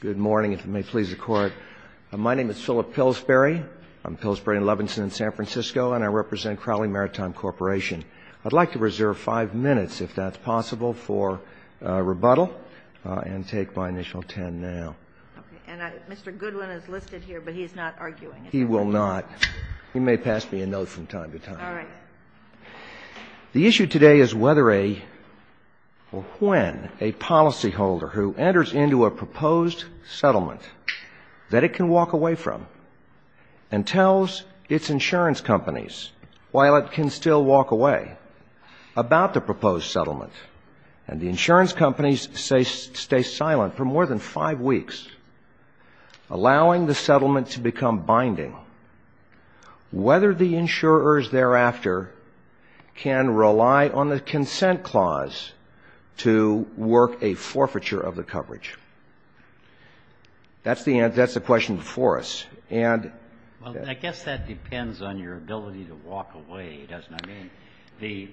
Good morning. If it may please the Court, my name is Philip Pillsbury. I'm Pillsbury & Levenson in San Francisco, and I represent Crowley Maritime Corporation. I'd like to reserve five minutes, if that's possible, for rebuttal and take my initial ten now. Okay. And Mr. Goodwin is listed here, but he's not arguing. He will not. You may pass me a note from time to time. All right. The issue today is whether or when a policyholder who enters into a proposed settlement that it can walk away from and tells its insurance companies, while it can still walk away, about the proposed settlement, and the insurance companies stay silent for more than five weeks, allowing the settlement to become binding, whether the insurers thereafter can rely on the consent clause to work a forfeiture of the coverage. That's the question before us. Well, I guess that depends on your ability to walk away, doesn't it? I mean, the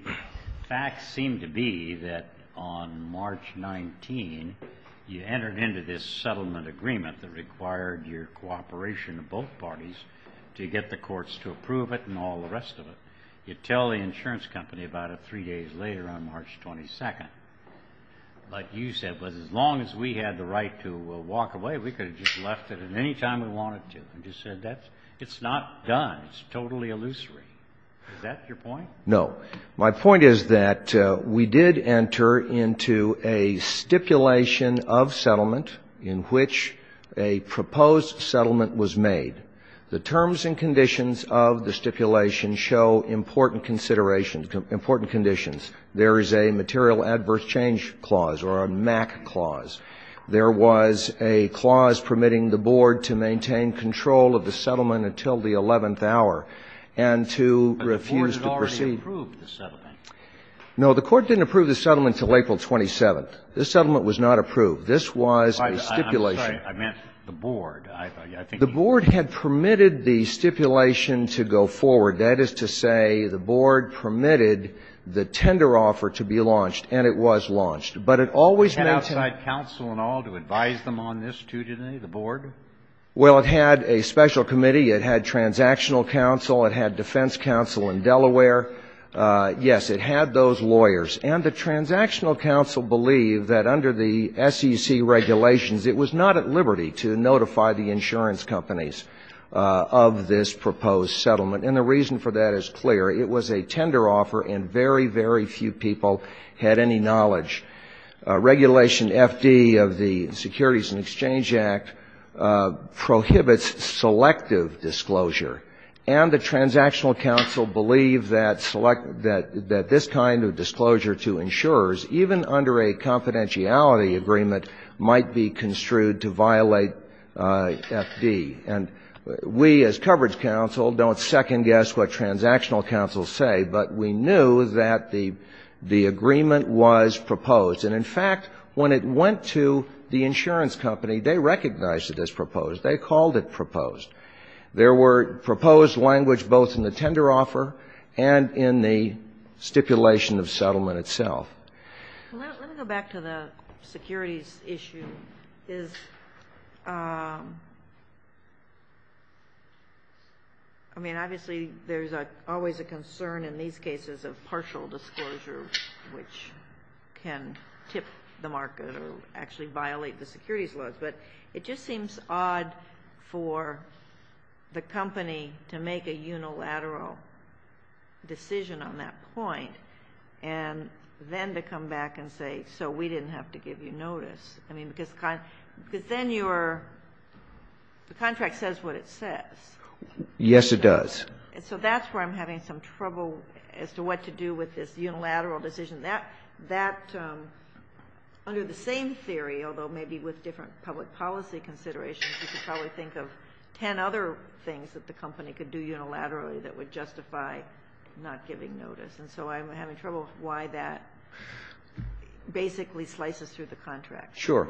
facts seem to be that on March 19, you entered into this settlement agreement that required your cooperation of both parties to get the courts to approve it and all the rest of it. You tell the insurance company about it three days later on March 22. Like you said, as long as we had the right to walk away, we could have just left it at any time we wanted to. You said it's not done. It's totally illusory. Is that your point? No. My point is that we did enter into a stipulation of settlement in which a proposed settlement was made. The terms and conditions of the stipulation show important considerations, important conditions. There is a material adverse change clause or a MAC clause. There was a clause permitting the board to maintain control of the settlement until the 11th hour and to refuse to proceed. But the court didn't approve the settlement. No. The court didn't approve the settlement until April 27th. This settlement was not approved. This was a stipulation. I'm sorry. I meant the board. The board had permitted the stipulation to go forward. That is to say the board permitted the tender offer to be launched, and it was launched. But it always maintained the board. It had outside counsel and all to advise them on this, too, didn't it, the board? Well, it had a special committee. It had transactional counsel. It had defense counsel in Delaware. Yes, it had those lawyers. And the transactional counsel believed that under the SEC regulations it was not at liberty to notify the insurance companies of this proposed settlement. And the reason for that is clear. It was a tender offer, and very, very few people had any knowledge. Regulation F.D. of the Securities and Exchange Act prohibits selective disclosure. And the transactional counsel believed that this kind of disclosure to insurers, even under a confidentiality agreement, might be construed to violate F.D. And we as coverage counsel don't second-guess what transactional counsels say, but we knew that the agreement was proposed. And, in fact, when it went to the insurance company, they recognized it as proposed. They called it proposed. There were proposed language both in the tender offer and in the stipulation of settlement itself. Well, let me go back to the securities issue. I mean, obviously, there's always a concern in these cases of partial disclosure, which can tip the market or actually violate the securities laws. But it just seems odd for the company to make a unilateral decision on that point, and then to come back and say, so we didn't have to give you notice. I mean, because then your contract says what it says. Yes, it does. So that's where I'm having some trouble as to what to do with this unilateral decision. That, under the same theory, although maybe with different public policy considerations, you could probably think of ten other things that the company could do unilaterally that would justify not giving notice. And so I'm having trouble why that basically slices through the contract. Sure.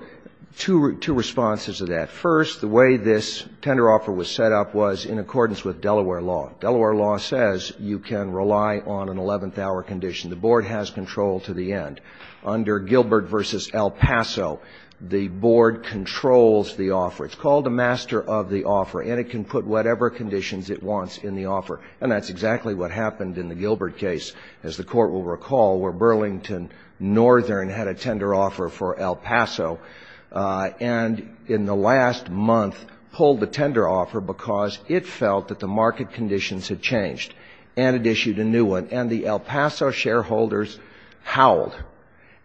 Two responses to that. First, the way this tender offer was set up was in accordance with Delaware law. Delaware law says you can rely on an 11th-hour condition. The board has control to the end. Under Gilbert v. El Paso, the board controls the offer. It's called a master of the offer, and it can put whatever conditions it wants in the offer. And that's exactly what happened in the Gilbert case, as the Court will recall, where Burlington Northern had a tender offer for El Paso and, in the last month, pulled the tender offer because it felt that the market conditions had changed, and it issued a new one. And the El Paso shareholders howled.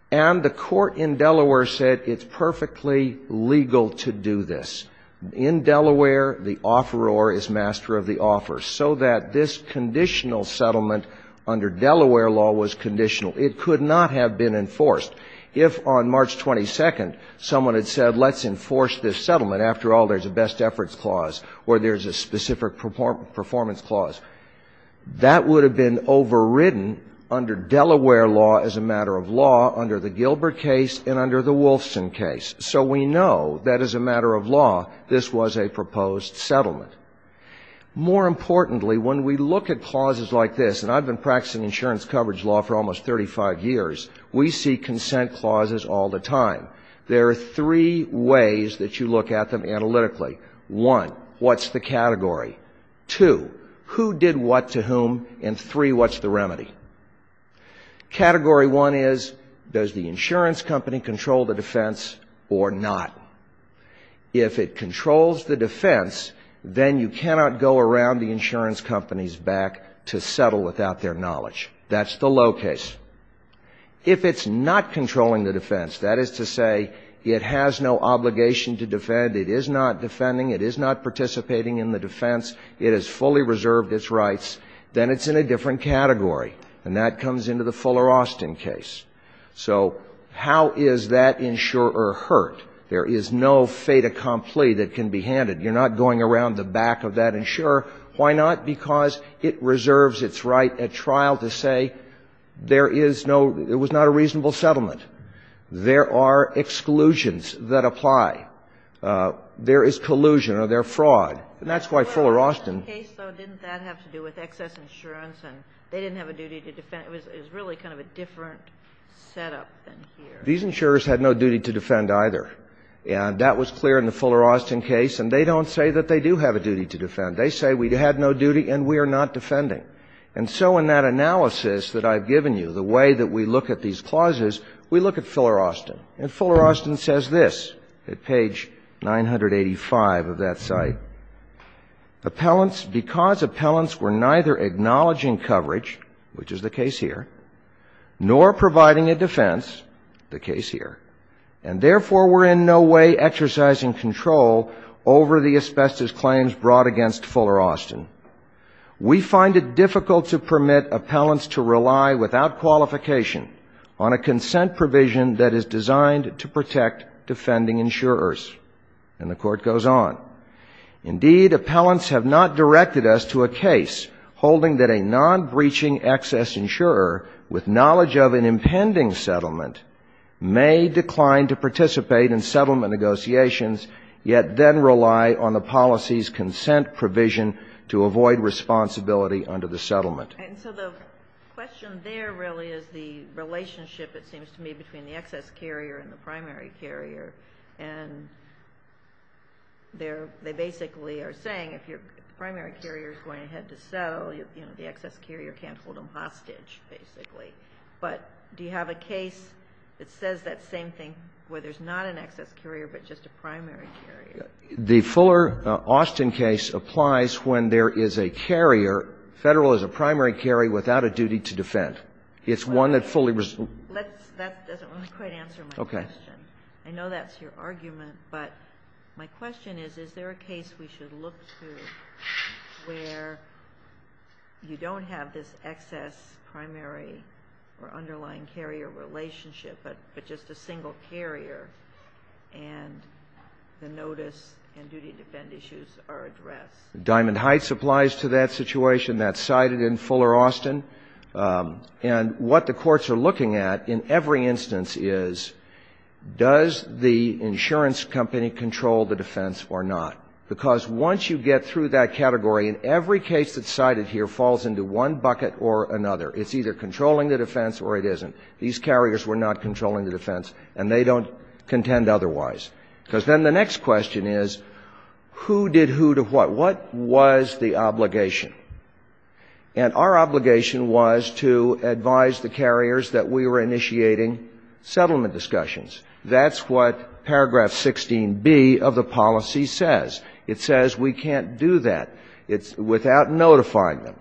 And the court in Delaware said it's perfectly legal to do this. In Delaware, the offeror is master of the offer, so that this conditional settlement under Delaware law was conditional. It could not have been enforced. If on March 22nd someone had said, let's enforce this settlement, after all there's a best efforts clause or there's a specific performance clause, that would have been overridden under Delaware law as a matter of law, under the Gilbert case and under the Wolfson case. So we know that as a matter of law, this was a proposed settlement. More importantly, when we look at clauses like this, and I've been practicing insurance coverage law for almost 35 years, we see consent clauses all the time. There are three ways that you look at them analytically. One, what's the category? Two, who did what to whom? And three, what's the remedy? Category one is, does the insurance company control the defense or not? If it controls the defense, then you cannot go around the insurance company's back to settle without their knowledge. That's the low case. If it's not controlling the defense, that is to say it has no obligation to defend, it is not defending, it is not participating in the defense, it has fully reserved its rights, then it's in a different category. And that comes into the Fuller-Austin case. So how is that insurer hurt? There is no fait accompli that can be handed. You're not going around the back of that insurer. Why not? Because it reserves its right at trial to say there is no – it was not a reasonable settlement. There are exclusions that apply. There is collusion or there's fraud. And that's why Fuller-Austin – The Fuller-Austin case, though, didn't that have to do with excess insurance and they didn't have a duty to defend? It was really kind of a different setup than here. These insurers had no duty to defend either. And that was clear in the Fuller-Austin case. And they don't say that they do have a duty to defend. They say we had no duty and we are not defending. And so in that analysis that I've given you, the way that we look at these clauses, we look at Fuller-Austin. And Fuller-Austin says this at page 985 of that site. Appellants, because appellants were neither acknowledging coverage, which is the case here, nor providing a defense, the case here, and therefore were in no way exercising control over the asbestos claims brought against Fuller-Austin. We find it difficult to permit appellants to rely, without qualification, on a consent provision that is designed to protect defending insurers. And the Court goes on. Indeed, appellants have not directed us to a case holding that a non-breaching excess insurer with knowledge of an impending settlement may decline to participate in settlement negotiations, yet then rely on the policy's consent provision to avoid responsibility under the settlement. And so the question there really is the relationship, it seems to me, between the excess carrier and the primary carrier. And they basically are saying if your primary carrier is going ahead to settle, you know, the excess carrier can't hold them hostage, basically. But do you have a case that says that same thing, where there's not an excess carrier, but just a primary carrier? The Fuller-Austin case applies when there is a carrier, Federal as a primary carrier, without a duty to defend. It's one that fully resolves. That doesn't really quite answer my question. Okay. I know that's your argument, but my question is, is there a case we should look to where you don't have this excess primary or underlying carrier relationship, but just a single carrier and the notice and duty to defend issues are addressed? Diamond Heights applies to that situation. That's cited in Fuller-Austin. And what the courts are looking at in every instance is, does the insurance company control the defense or not? Because once you get through that category, in every case that's cited here falls into one bucket or another. It's either controlling the defense or it isn't. These carriers were not controlling the defense, and they don't contend otherwise. Because then the next question is, who did who to what? What was the obligation? And our obligation was to advise the carriers that we were initiating settlement discussions. That's what paragraph 16b of the policy says. It says we can't do that. It's without notifying them.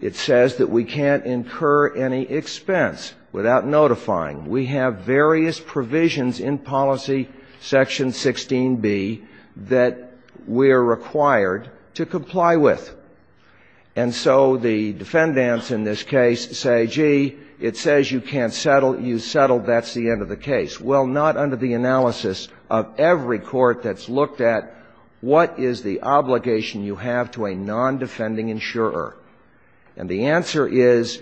It says that we can't incur any expense without notifying. We have various provisions in policy section 16b that we are required to comply with. And so the defendants in this case say, gee, it says you can't settle. You settle. That's the end of the case. Well, not under the analysis of every court that's looked at, what is the obligation you have to a nondefending insurer? And the answer is,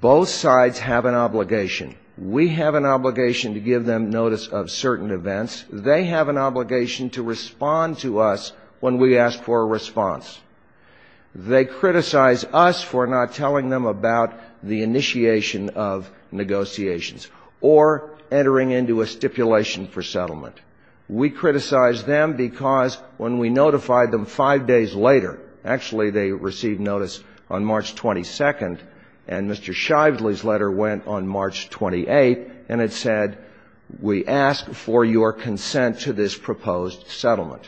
both sides have an obligation. We have an obligation to give them notice of certain events. They have an obligation to respond to us when we ask for a response. They criticize us for not telling them about the initiation of negotiations or entering into a stipulation for settlement. We criticize them because when we notified them five days later, actually they received notice on March 22nd, and Mr. Shively's letter went on March 28th, and it said, we ask for your consent to this proposed settlement.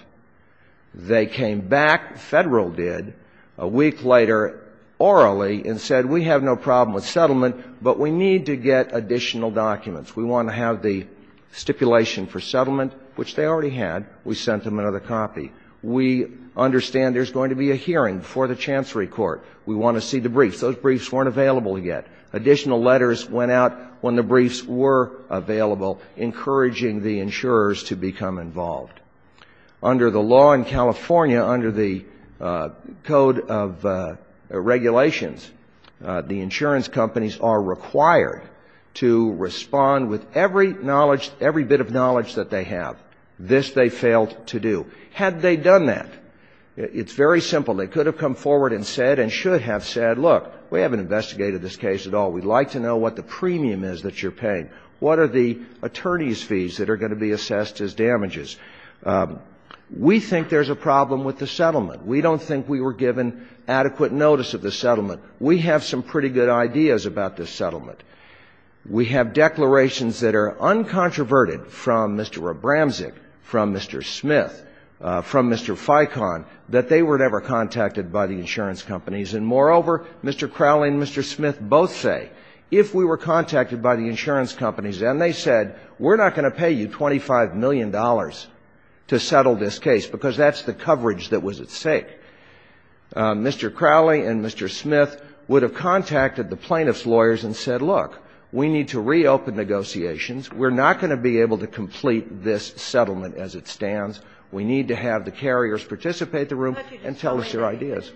They came back, Federal did, a week later orally and said, we have no problem with settlement, but we need to get additional documents. We want to have the stipulation for settlement, which they already had. We sent them another copy. We understand there's going to be a hearing before the Chancery Court. We want to see the briefs. Those briefs weren't available yet. Additional letters went out when the briefs were available, encouraging the insurers to become involved. Under the law in California, under the Code of Regulations, the insurance companies are required to respond with every knowledge, every bit of knowledge that they have. This they failed to do. Had they done that, it's very simple. They could have come forward and said and should have said, look, we haven't investigated this case at all. We'd like to know what the premium is that you're paying. What are the attorney's fees that are going to be assessed as damages? We think there's a problem with the settlement. We don't think we were given adequate notice of the settlement. We have some pretty good ideas about this settlement. We have declarations that are uncontroverted from Mr. Abramczyk, from Mr. Smith, from Mr. Ficon, that they were never contacted by the insurance companies. And moreover, Mr. Crowley and Mr. Smith both say, if we were contacted by the insurance companies and they said, we're not going to pay you $25 million to settle this case, because that's the coverage that was at stake, Mr. Crowley and Mr. Smith would have contacted the plaintiff's lawyers and said, look, we need to reopen negotiations. We're not going to be able to complete this settlement as it stands. We need to have the carriers participate in the room and tell us their ideas.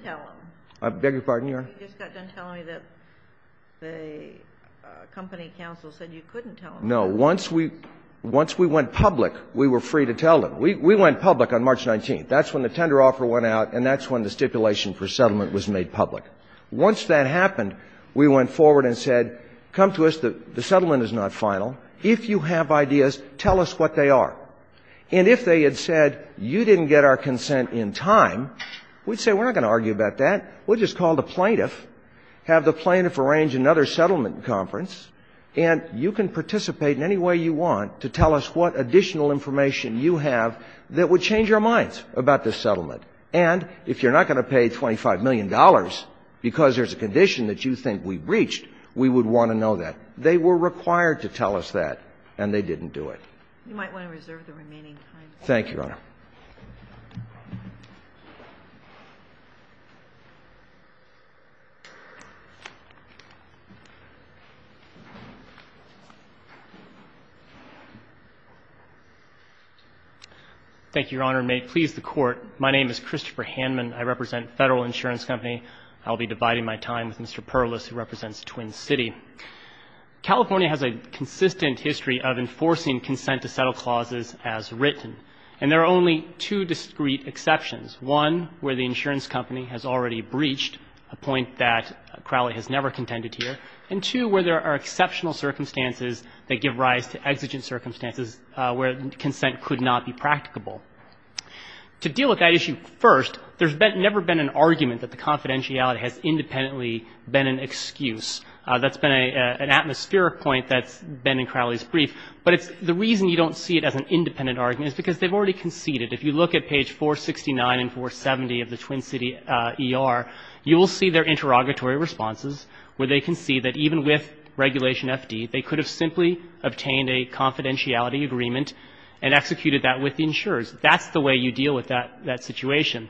I beg your pardon, Your Honor. You just got done telling me that the company counsel said you couldn't tell them. No. Once we went public, we were free to tell them. We went public on March 19th. That's when the tender offer went out and that's when the stipulation for settlement was made public. Once that happened, we went forward and said, come to us. The settlement is not final. If you have ideas, tell us what they are. And if they had said, you didn't get our consent in time, we'd say, we're not going to argue about that. We'll just call the plaintiff, have the plaintiff arrange another settlement conference, and you can participate in any way you want to tell us what additional information you have that would change our minds about this settlement. And if you're not going to pay $25 million because there's a condition that you think we've reached, we would want to know that. They were required to tell us that, and they didn't do it. Thank you, Your Honor. Thank you, Your Honor. May it please the Court, my name is Christopher Hanman. I represent Federal Insurance Company. I'll be dividing my time with Mr. Perlis, who represents Twin City. California has a consistent history of enforcing consent to settle clauses as written, and there are only two discrete exceptions. One, where the insurance company has already breached, a point that Crowley has never contended here. And two, where there are exceptional circumstances that give rise to exigent circumstances where consent could not be practicable. To deal with that issue first, there's never been an argument that the confidentiality has independently been an excuse. That's been an atmospheric point that's been in Crowley's brief. But it's the reason you don't see it as an independent argument is because they've already conceded. If you look at page 469 and 470 of the Twin City ER, you will see their interrogatory responses where they concede that even with Regulation FD, they could have simply obtained a confidentiality agreement and executed that with the insurers. That's the way you deal with that situation.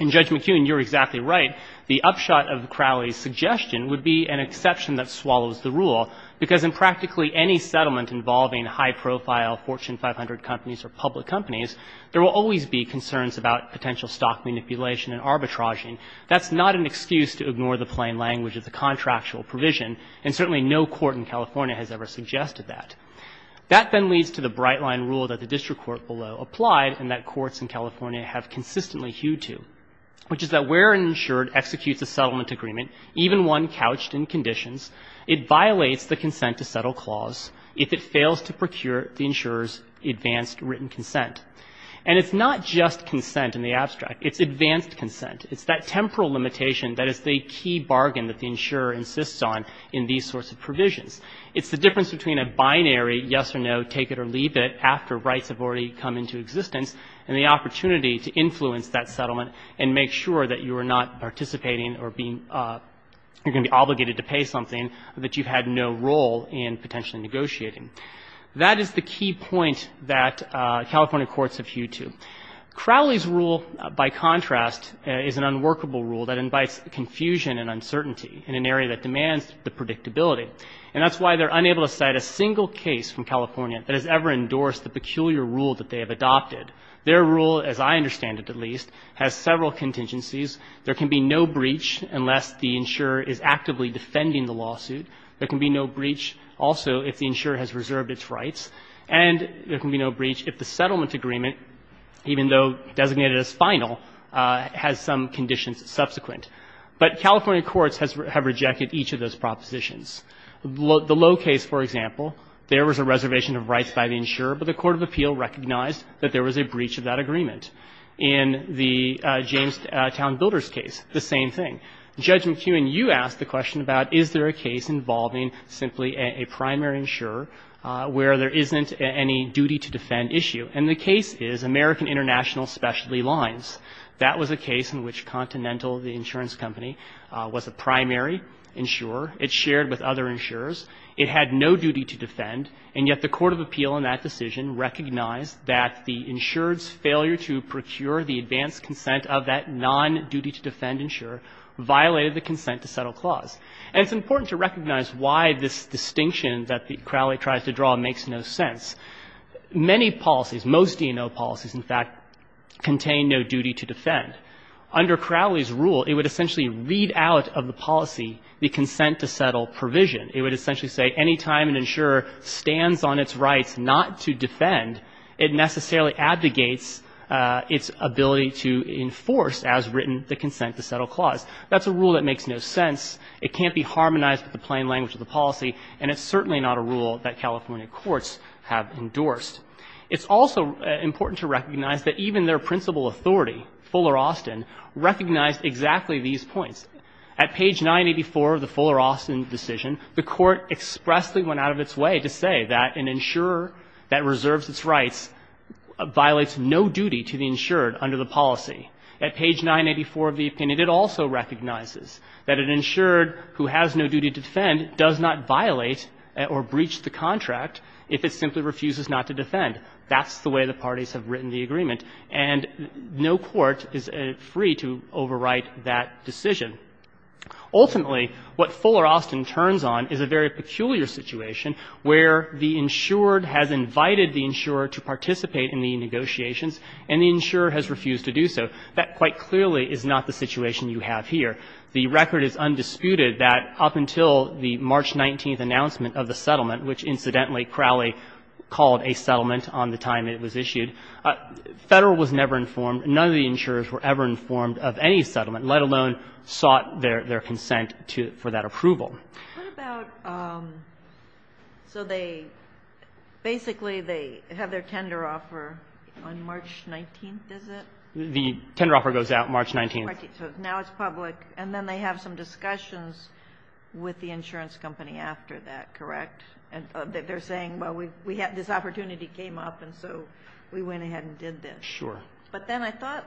In Judge McKeown, you're exactly right. The upshot of Crowley's suggestion would be an exception that swallows the rule, because in practically any settlement involving high-profile Fortune 500 companies or public companies, there will always be concerns about potential stock manipulation and arbitraging. That's not an excuse to ignore the plain language of the contractual provision, and certainly no court in California has ever suggested that. That then leads to the bright-line rule that the district court below applied and that courts in California have consistently hewed to, which is that where an insurer executes a settlement agreement, even one couched in conditions, it violates the consent to settle clause if it fails to procure the insurer's advanced written consent. And it's not just consent in the abstract. It's advanced consent. It's that temporal limitation that is the key bargain that the insurer insists on in these sorts of provisions. It's the difference between a binary yes or no, take it or leave it, after rights have already come into existence, and the opportunity to influence that settlement and make sure that you are not participating or being — you're going to be obligated to pay something that you've had no role in potentially negotiating. That is the key point that California courts have hewed to. Crowley's rule, by contrast, is an unworkable rule that invites confusion and uncertainty in an area that demands the predictability. And that's why they're unable to cite a single case from California that has ever endorsed the peculiar rule that they have adopted. Their rule, as I understand it at least, has several contingencies. There can be no breach unless the insurer is actively defending the lawsuit. There can be no breach also if the insurer has reserved its rights. And there can be no breach if the settlement agreement, even though designated as final, has some conditions subsequent. But California courts have rejected each of those propositions. The Lowe case, for example, there was a reservation of rights by the insurer, but the court of appeal recognized that there was a breach of that agreement. In the Jamestown Builders case, the same thing. Judge McEwen, you asked the question about is there a case involving simply a primary insurer where there isn't any duty to defend issue. And the case is American International Specialty Lines. That was a case in which Continental, the insurance company, was a primary insurer. It had no duty to defend. And yet the court of appeal in that decision recognized that the insured's failure to procure the advanced consent of that non-duty-to-defend insurer violated the consent to settle clause. And it's important to recognize why this distinction that Crowley tries to draw makes no sense. Many policies, most D&O policies, in fact, contain no duty to defend. Under Crowley's rule, it would essentially read out of the policy the consent to settle provision. It would essentially say any time an insurer stands on its rights not to defend, it necessarily abdicates its ability to enforce as written the consent to settle clause. That's a rule that makes no sense. It can't be harmonized with the plain language of the policy, and it's certainly not a rule that California courts have endorsed. It's also important to recognize that even their principal authority, Fuller-Austin, recognized exactly these points. At page 984 of the Fuller-Austin decision, the Court expressly went out of its way to say that an insurer that reserves its rights violates no duty to the insured under the policy. At page 984 of the opinion, it also recognizes that an insured who has no duty to defend does not violate or breach the contract if it simply refuses not to defend. That's the way the parties have written the agreement. And no court is free to overwrite that decision. Ultimately, what Fuller-Austin turns on is a very peculiar situation where the insured has invited the insurer to participate in the negotiations and the insurer has refused to do so. That quite clearly is not the situation you have here. The record is undisputed that up until the March 19th announcement of the settlement, which incidentally Crowley called a settlement on the time it was issued, Federal was never informed, none of the insurers were ever informed of any settlement, let alone sought their consent for that approval. What about so they basically they have their tender offer on March 19th, is it? The tender offer goes out March 19th. So now it's public. And then they have some discussions with the insurance company after that, correct? They're saying, well, we had this opportunity came up and so we went ahead and did this. Sure. But then I thought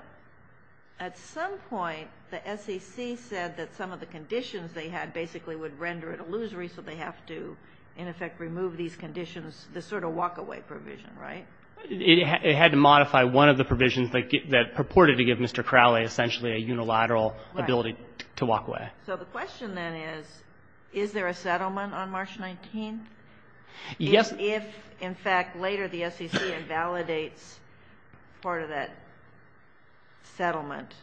at some point the SEC said that some of the conditions they had basically would render it illusory so they have to, in effect, remove these conditions, this sort of walk away provision, right? It had to modify one of the provisions that purported to give Mr. Crowley essentially a unilateral ability to walk away. So the question then is, is there a settlement on March 19th? Yes. If, in fact, later the SEC invalidates part of that settlement,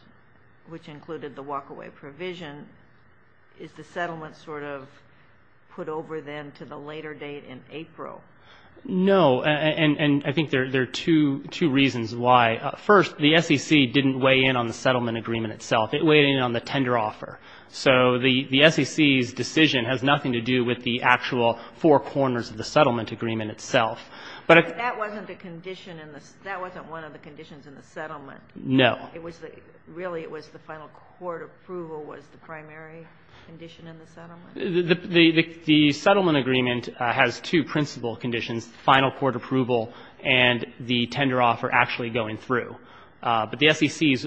which included the walk away provision, is the settlement sort of put over then to the later date in April? No. And I think there are two reasons why. First, the SEC didn't weigh in on the settlement agreement itself. It weighed in on the tender offer. So the SEC's decision has nothing to do with the actual four corners of the settlement agreement itself. But if the SEC's decision has nothing to do with the actual four corners of the settlement agreement itself. But that wasn't the condition in the – that wasn't one of the conditions in the settlement. No. It was the – really it was the final court approval was the primary condition in the settlement? The settlement agreement has two principal conditions, the final court approval and the tender offer actually going through. But the SEC's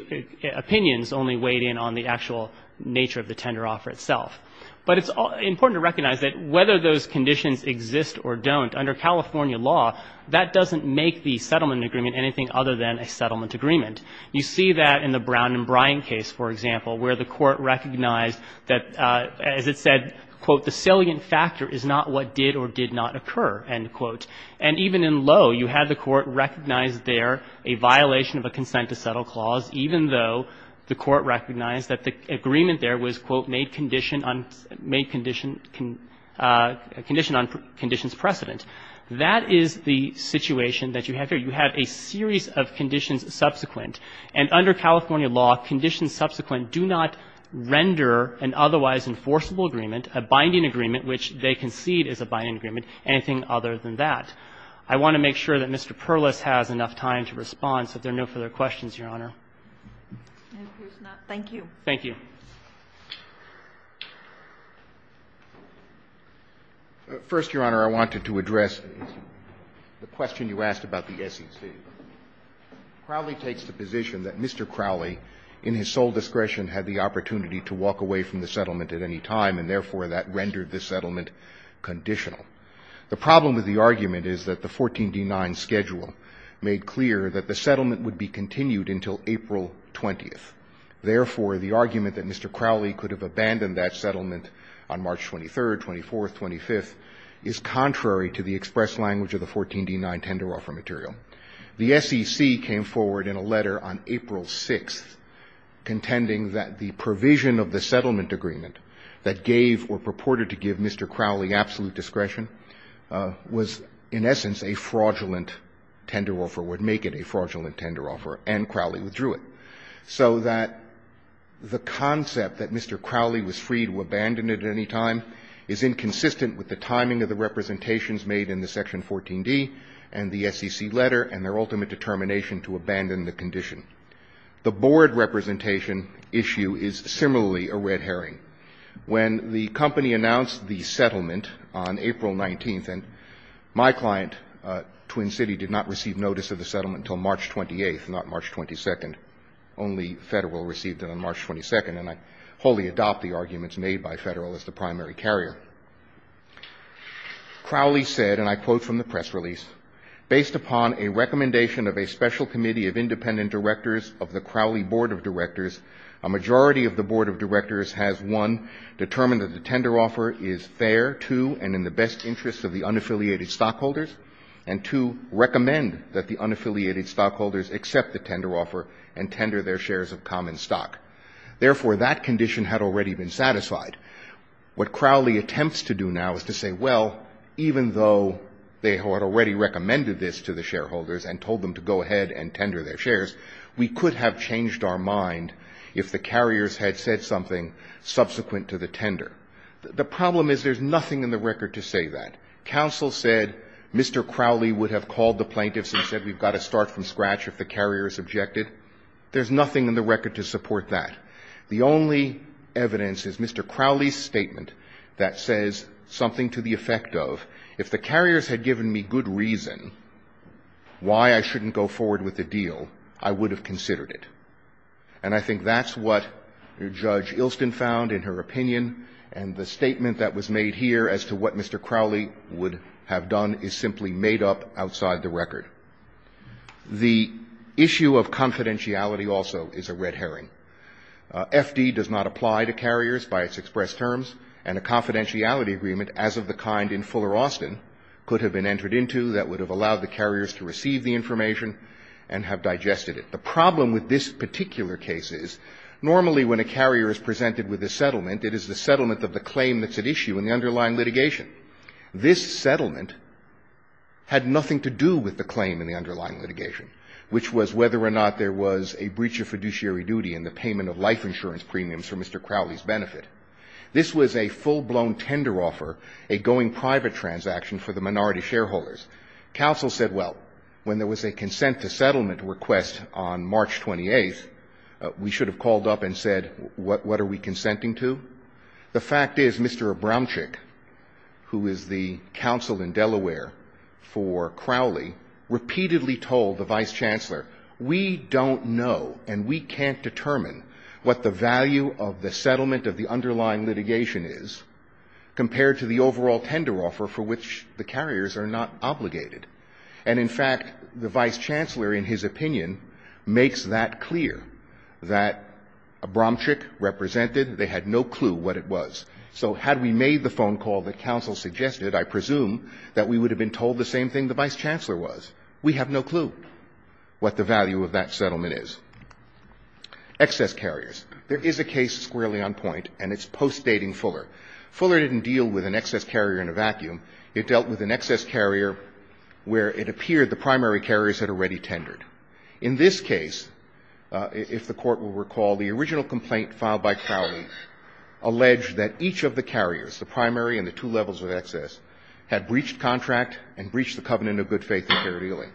opinions only weighed in on the actual nature of the tender offer itself. But it's important to recognize that whether those conditions exist or don't, under California law, that doesn't make the settlement agreement anything other than a settlement agreement. You see that in the Brown and Bryant case, for example, where the court recognized that, as it said, quote, the salient factor is not what did or did not occur, end quote. And even in Lowe, you had the court recognize there a violation of a consent-to-settle clause, even though the court recognized that the agreement there was, quote, made condition on – made condition – condition on conditions precedent. That is the situation that you have here. You have a series of conditions subsequent. And under California law, conditions subsequent do not render an otherwise enforceable agreement, a binding agreement, which they concede is a binding agreement, anything other than that. I want to make sure that Mr. Perlis has enough time to respond, so if there are no further questions, Your Honor. Thank you. Thank you. First, Your Honor, I wanted to address the question you asked about the SEC. Crowley takes the position that Mr. Crowley, in his sole discretion, had the opportunity to walk away from the settlement at any time, and therefore that rendered the settlement conditional. The problem with the argument is that the 14D9 schedule made clear that the settlement would be continued until April 20th. Therefore, the argument that Mr. Crowley could have abandoned that settlement on March 23rd, 24th, 25th is contrary to the express language of the 14D9 tender offer material. The SEC came forward in a letter on April 6th contending that the provision of the settlement agreement that gave or purported to give Mr. Crowley absolute discretion was, in essence, a fraudulent tender offer, would make it a fraudulent tender offer, and Crowley withdrew it. So that the concept that Mr. Crowley was free to abandon it at any time is inconsistent with the timing of the representations made in the Section 14D and the SEC letter and their ultimate determination to abandon the condition. The board representation issue is similarly a red herring. When the company announced the settlement on April 19th, and my client, Twin City, did not receive notice of the settlement until March 28th, not March 22nd. Only Federal received it on March 22nd, and I wholly adopt the arguments made by Federal as the primary carrier. Crowley said, and I quote from the press release, based upon a recommendation of a special committee of independent directors of the Crowley Board of Directors, a majority of the Board of Directors has, one, determined that the tender offer is fair to and in the best interest of the unaffiliated stockholders, and, two, recommend that the unaffiliated stockholders accept the tender offer and tender their shares of common stock. Therefore, that condition had already been satisfied. What Crowley attempts to do now is to say, well, even though they had already recommended this to the shareholders and told them to go ahead and tender their shares, we could have changed our mind if the carriers had said something subsequent to the tender. The problem is there's nothing in the record to say that. Counsel said Mr. Crowley would have called the plaintiffs and said we've got to start from scratch if the carriers objected. There's nothing in the record to support that. The only evidence is Mr. Crowley's statement that says something to the effect of, if the carriers had given me good reason why I shouldn't go forward with the deal, I would have considered it. And I think that's what Judge Ilston found in her opinion, and the statement that was made here as to what Mr. Crowley would have done is simply made up outside the record. The issue of confidentiality also is a red herring. FD does not apply to carriers by its express terms, and a confidentiality agreement as of the kind in Fuller-Austin could have been entered into that would have allowed the carriers to receive the information and have digested it. The problem with this particular case is normally when a carrier is presented with a settlement, it is the settlement of the claim that's at issue in the underlying litigation. This settlement had nothing to do with the claim in the underlying litigation, which was whether or not there was a breach of fiduciary duty in the payment of life insurance premiums for Mr. Crowley's benefit. This was a full-blown tender offer, a going private transaction for the minority shareholders. Counsel said, well, when there was a consent to settlement request on March 28th, we should have called up and said, what are we consenting to? The fact is Mr. Abramchik, who is the counsel in Delaware for Crowley, repeatedly told the Vice Chancellor, we don't know and we can't determine what the value of the settlement of the underlying litigation is compared to the overall tender offer for which the carriers are not obligated. And in fact, the Vice Chancellor in his opinion makes that clear, that Abramchik represented, they had no clue what it was. So had we made the phone call that counsel suggested, I presume that we would have been told the same thing the Vice Chancellor was. We have no clue what the value of that settlement is. Excess carriers. There is a case squarely on point, and it's post-dating Fuller. Fuller didn't deal with an excess carrier in a vacuum. It dealt with an excess carrier where it appeared the primary carriers had already tendered. In this case, if the Court will recall, the original complaint filed by Crowley alleged that each of the carriers, the primary and the two levels of excess, had breached contract and breached the covenant of good faith and fair dealing.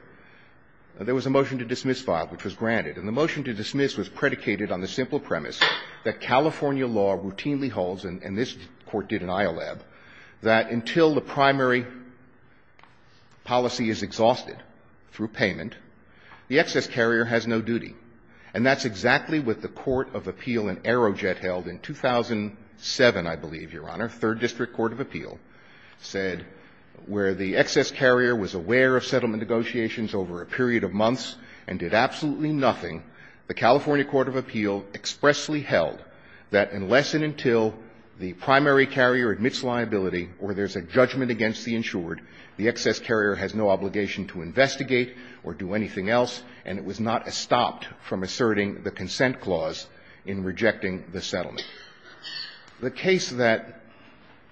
There was a motion to dismiss filed, which was granted. And the motion to dismiss was predicated on the simple premise that California law routinely holds, and this Court did in IOLAB, that until the primary policy is exhausted through payment, the excess carrier has no duty. And that's exactly what the Court of Appeal in Aerojet held in 2007, I believe, Your Honor. Third District Court of Appeal said where the excess carrier was aware of settlement negotiations over a period of months and did absolutely nothing, the California Court of Appeal expressly held that unless and until the primary carrier admits liability or there's a judgment against the insured, the excess carrier has no obligation to investigate or do anything else, and it was not stopped from asserting the consent clause in rejecting the settlement. The case that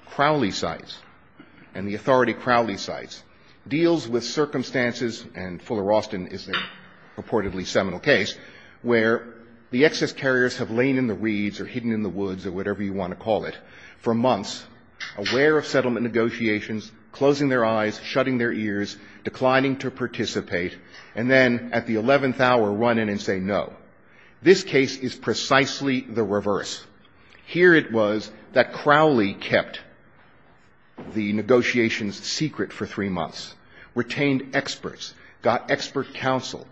Crowley cites and the authority Crowley cites deals with circumstances and Fuller-Austin is a reportedly seminal case where the excess carriers have lain in the reeds or hidden in the woods or whatever you want to call it for months, aware of settlement negotiations, closing their eyes, shutting their ears, declining to participate, and then at the 11th hour run in and say no. This case is precisely the reverse. Here it was that Crowley kept the negotiations secret for three months, retained experts, got expert counsel,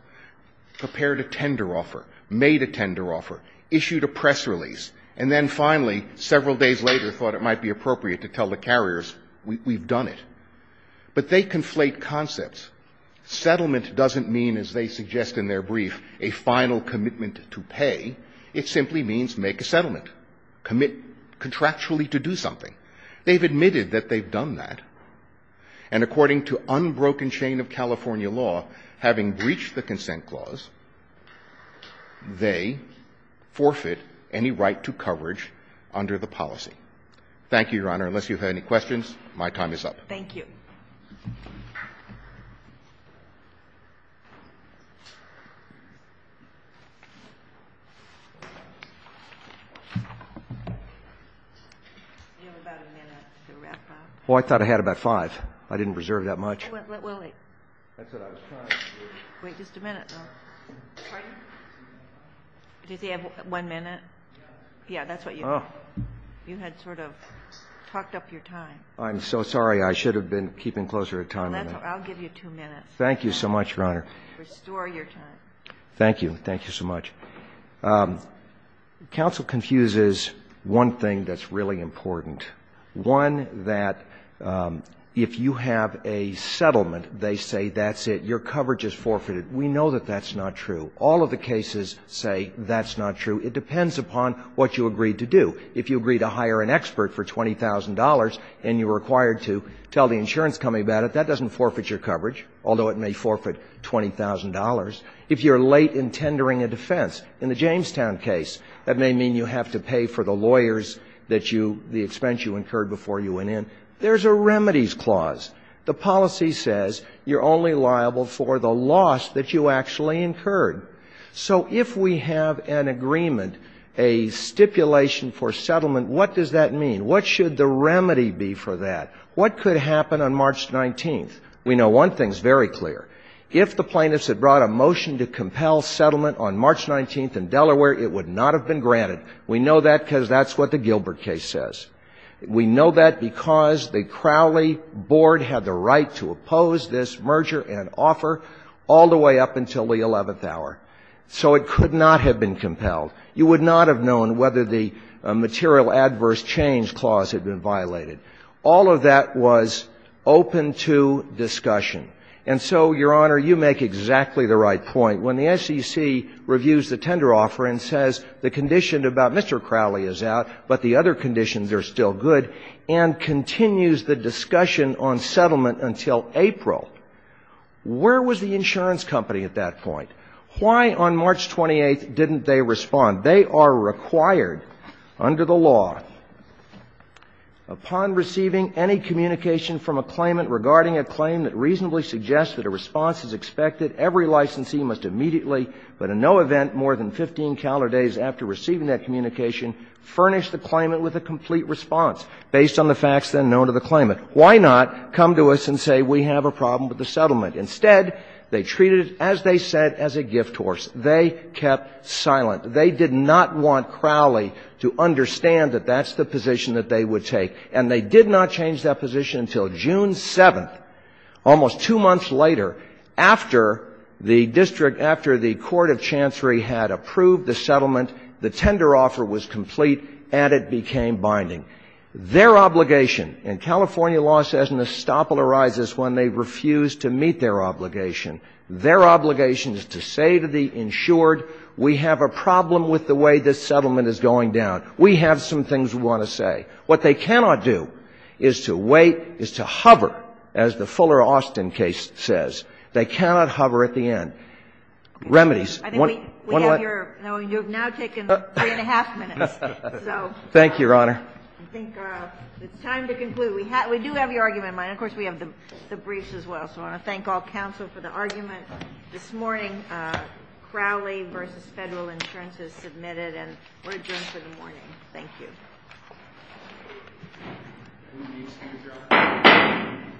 prepared a tender offer, made a tender offer, issued a press release, and then finally several days later thought it might be appropriate to tell the carriers we've done it. But they conflate concepts. Settlement doesn't mean, as they suggest in their brief, a final commitment to pay. It simply means make a settlement. Commit contractually to do something. They've admitted that they've done that. And according to unbroken chain of California law, having breached the consent clause, they forfeit any right to coverage under the policy. Thank you, Your Honor. Unless you have any questions, my time is up. Thank you. Well, I thought I had about five. I didn't reserve that much. Well, wait. That's what I was trying to do. Wait just a minute, though. Pardon? Do you think I have one minute? Yeah, that's what you had. You had sort of talked up your time. I'm so sorry. I should have been keeping closer to time than that. I'll give you two minutes. Thank you so much, Your Honor. Restore your time. Thank you. Thank you so much. Counsel confuses one thing that's really important. One, that if you have a settlement, they say that's it, your coverage is forfeited. We know that that's not true. All of the cases say that's not true. It depends upon what you agreed to do. If you agreed to hire an expert for $20,000 and you were required to tell the insurance company about it, that doesn't forfeit your coverage, although it may forfeit $20,000. If you're late in tendering a defense, in the Jamestown case, that may mean you have to pay for the lawyers that you the expense you incurred before you went in. There's a remedies clause. The policy says you're only liable for the loss that you actually incurred. So if we have an agreement, a stipulation for settlement, what does that mean? What should the remedy be for that? What could happen on March 19th? We know one thing's very clear. If the plaintiffs had brought a motion to compel settlement on March 19th in Delaware, it would not have been granted. We know that because that's what the Gilbert case says. We know that because the Crowley board had the right to oppose this merger and offer all the way up until the 11th hour. So it could not have been compelled. You would not have known whether the material adverse change clause had been violated. All of that was open to discussion. And so, Your Honor, you make exactly the right point. When the SEC reviews the tender offer and says the condition about Mr. Crowley is out, but the other conditions are still good, and continues the discussion on settlement until April, where was the insurance company at that point? Why on March 28th didn't they respond? They are required under the law, upon receiving any communication from a claimant regarding a claim that reasonably suggests that a response is expected, every licensee must immediately, but in no event more than 15 calendar days after receiving that communication, furnish the claimant with a complete response based on the facts then known to the claimant. Why not come to us and say we have a problem with the settlement? Instead, they treated it, as they said, as a gift horse. They kept silent. They did not want Crowley to understand that that's the position that they would take. And they did not change that position until June 7th, almost two months later, after the district, after the court of chancery had approved the settlement, the tender offer was complete, and it became binding. Their obligation, and California law says an estoppel arises when they refuse to meet their obligation, their obligation is to say to the insured, we have a problem with the way this settlement is going down. We have some things we want to say. What they cannot do is to wait, is to hover, as the Fuller-Austin case says. They cannot hover at the end. Remedies. One more. I think we have your ---- Kagan. You have now taken three and a half minutes. So. Carvin. Thank you, Your Honor. Ginsburg. I think it's time to conclude. We do have your argument in mind. Of course, we have the briefs as well. So I want to thank all counsel for the argument. This morning, Crowley v. Federal Insurance is submitted, and we're adjourned for the morning. Thank you.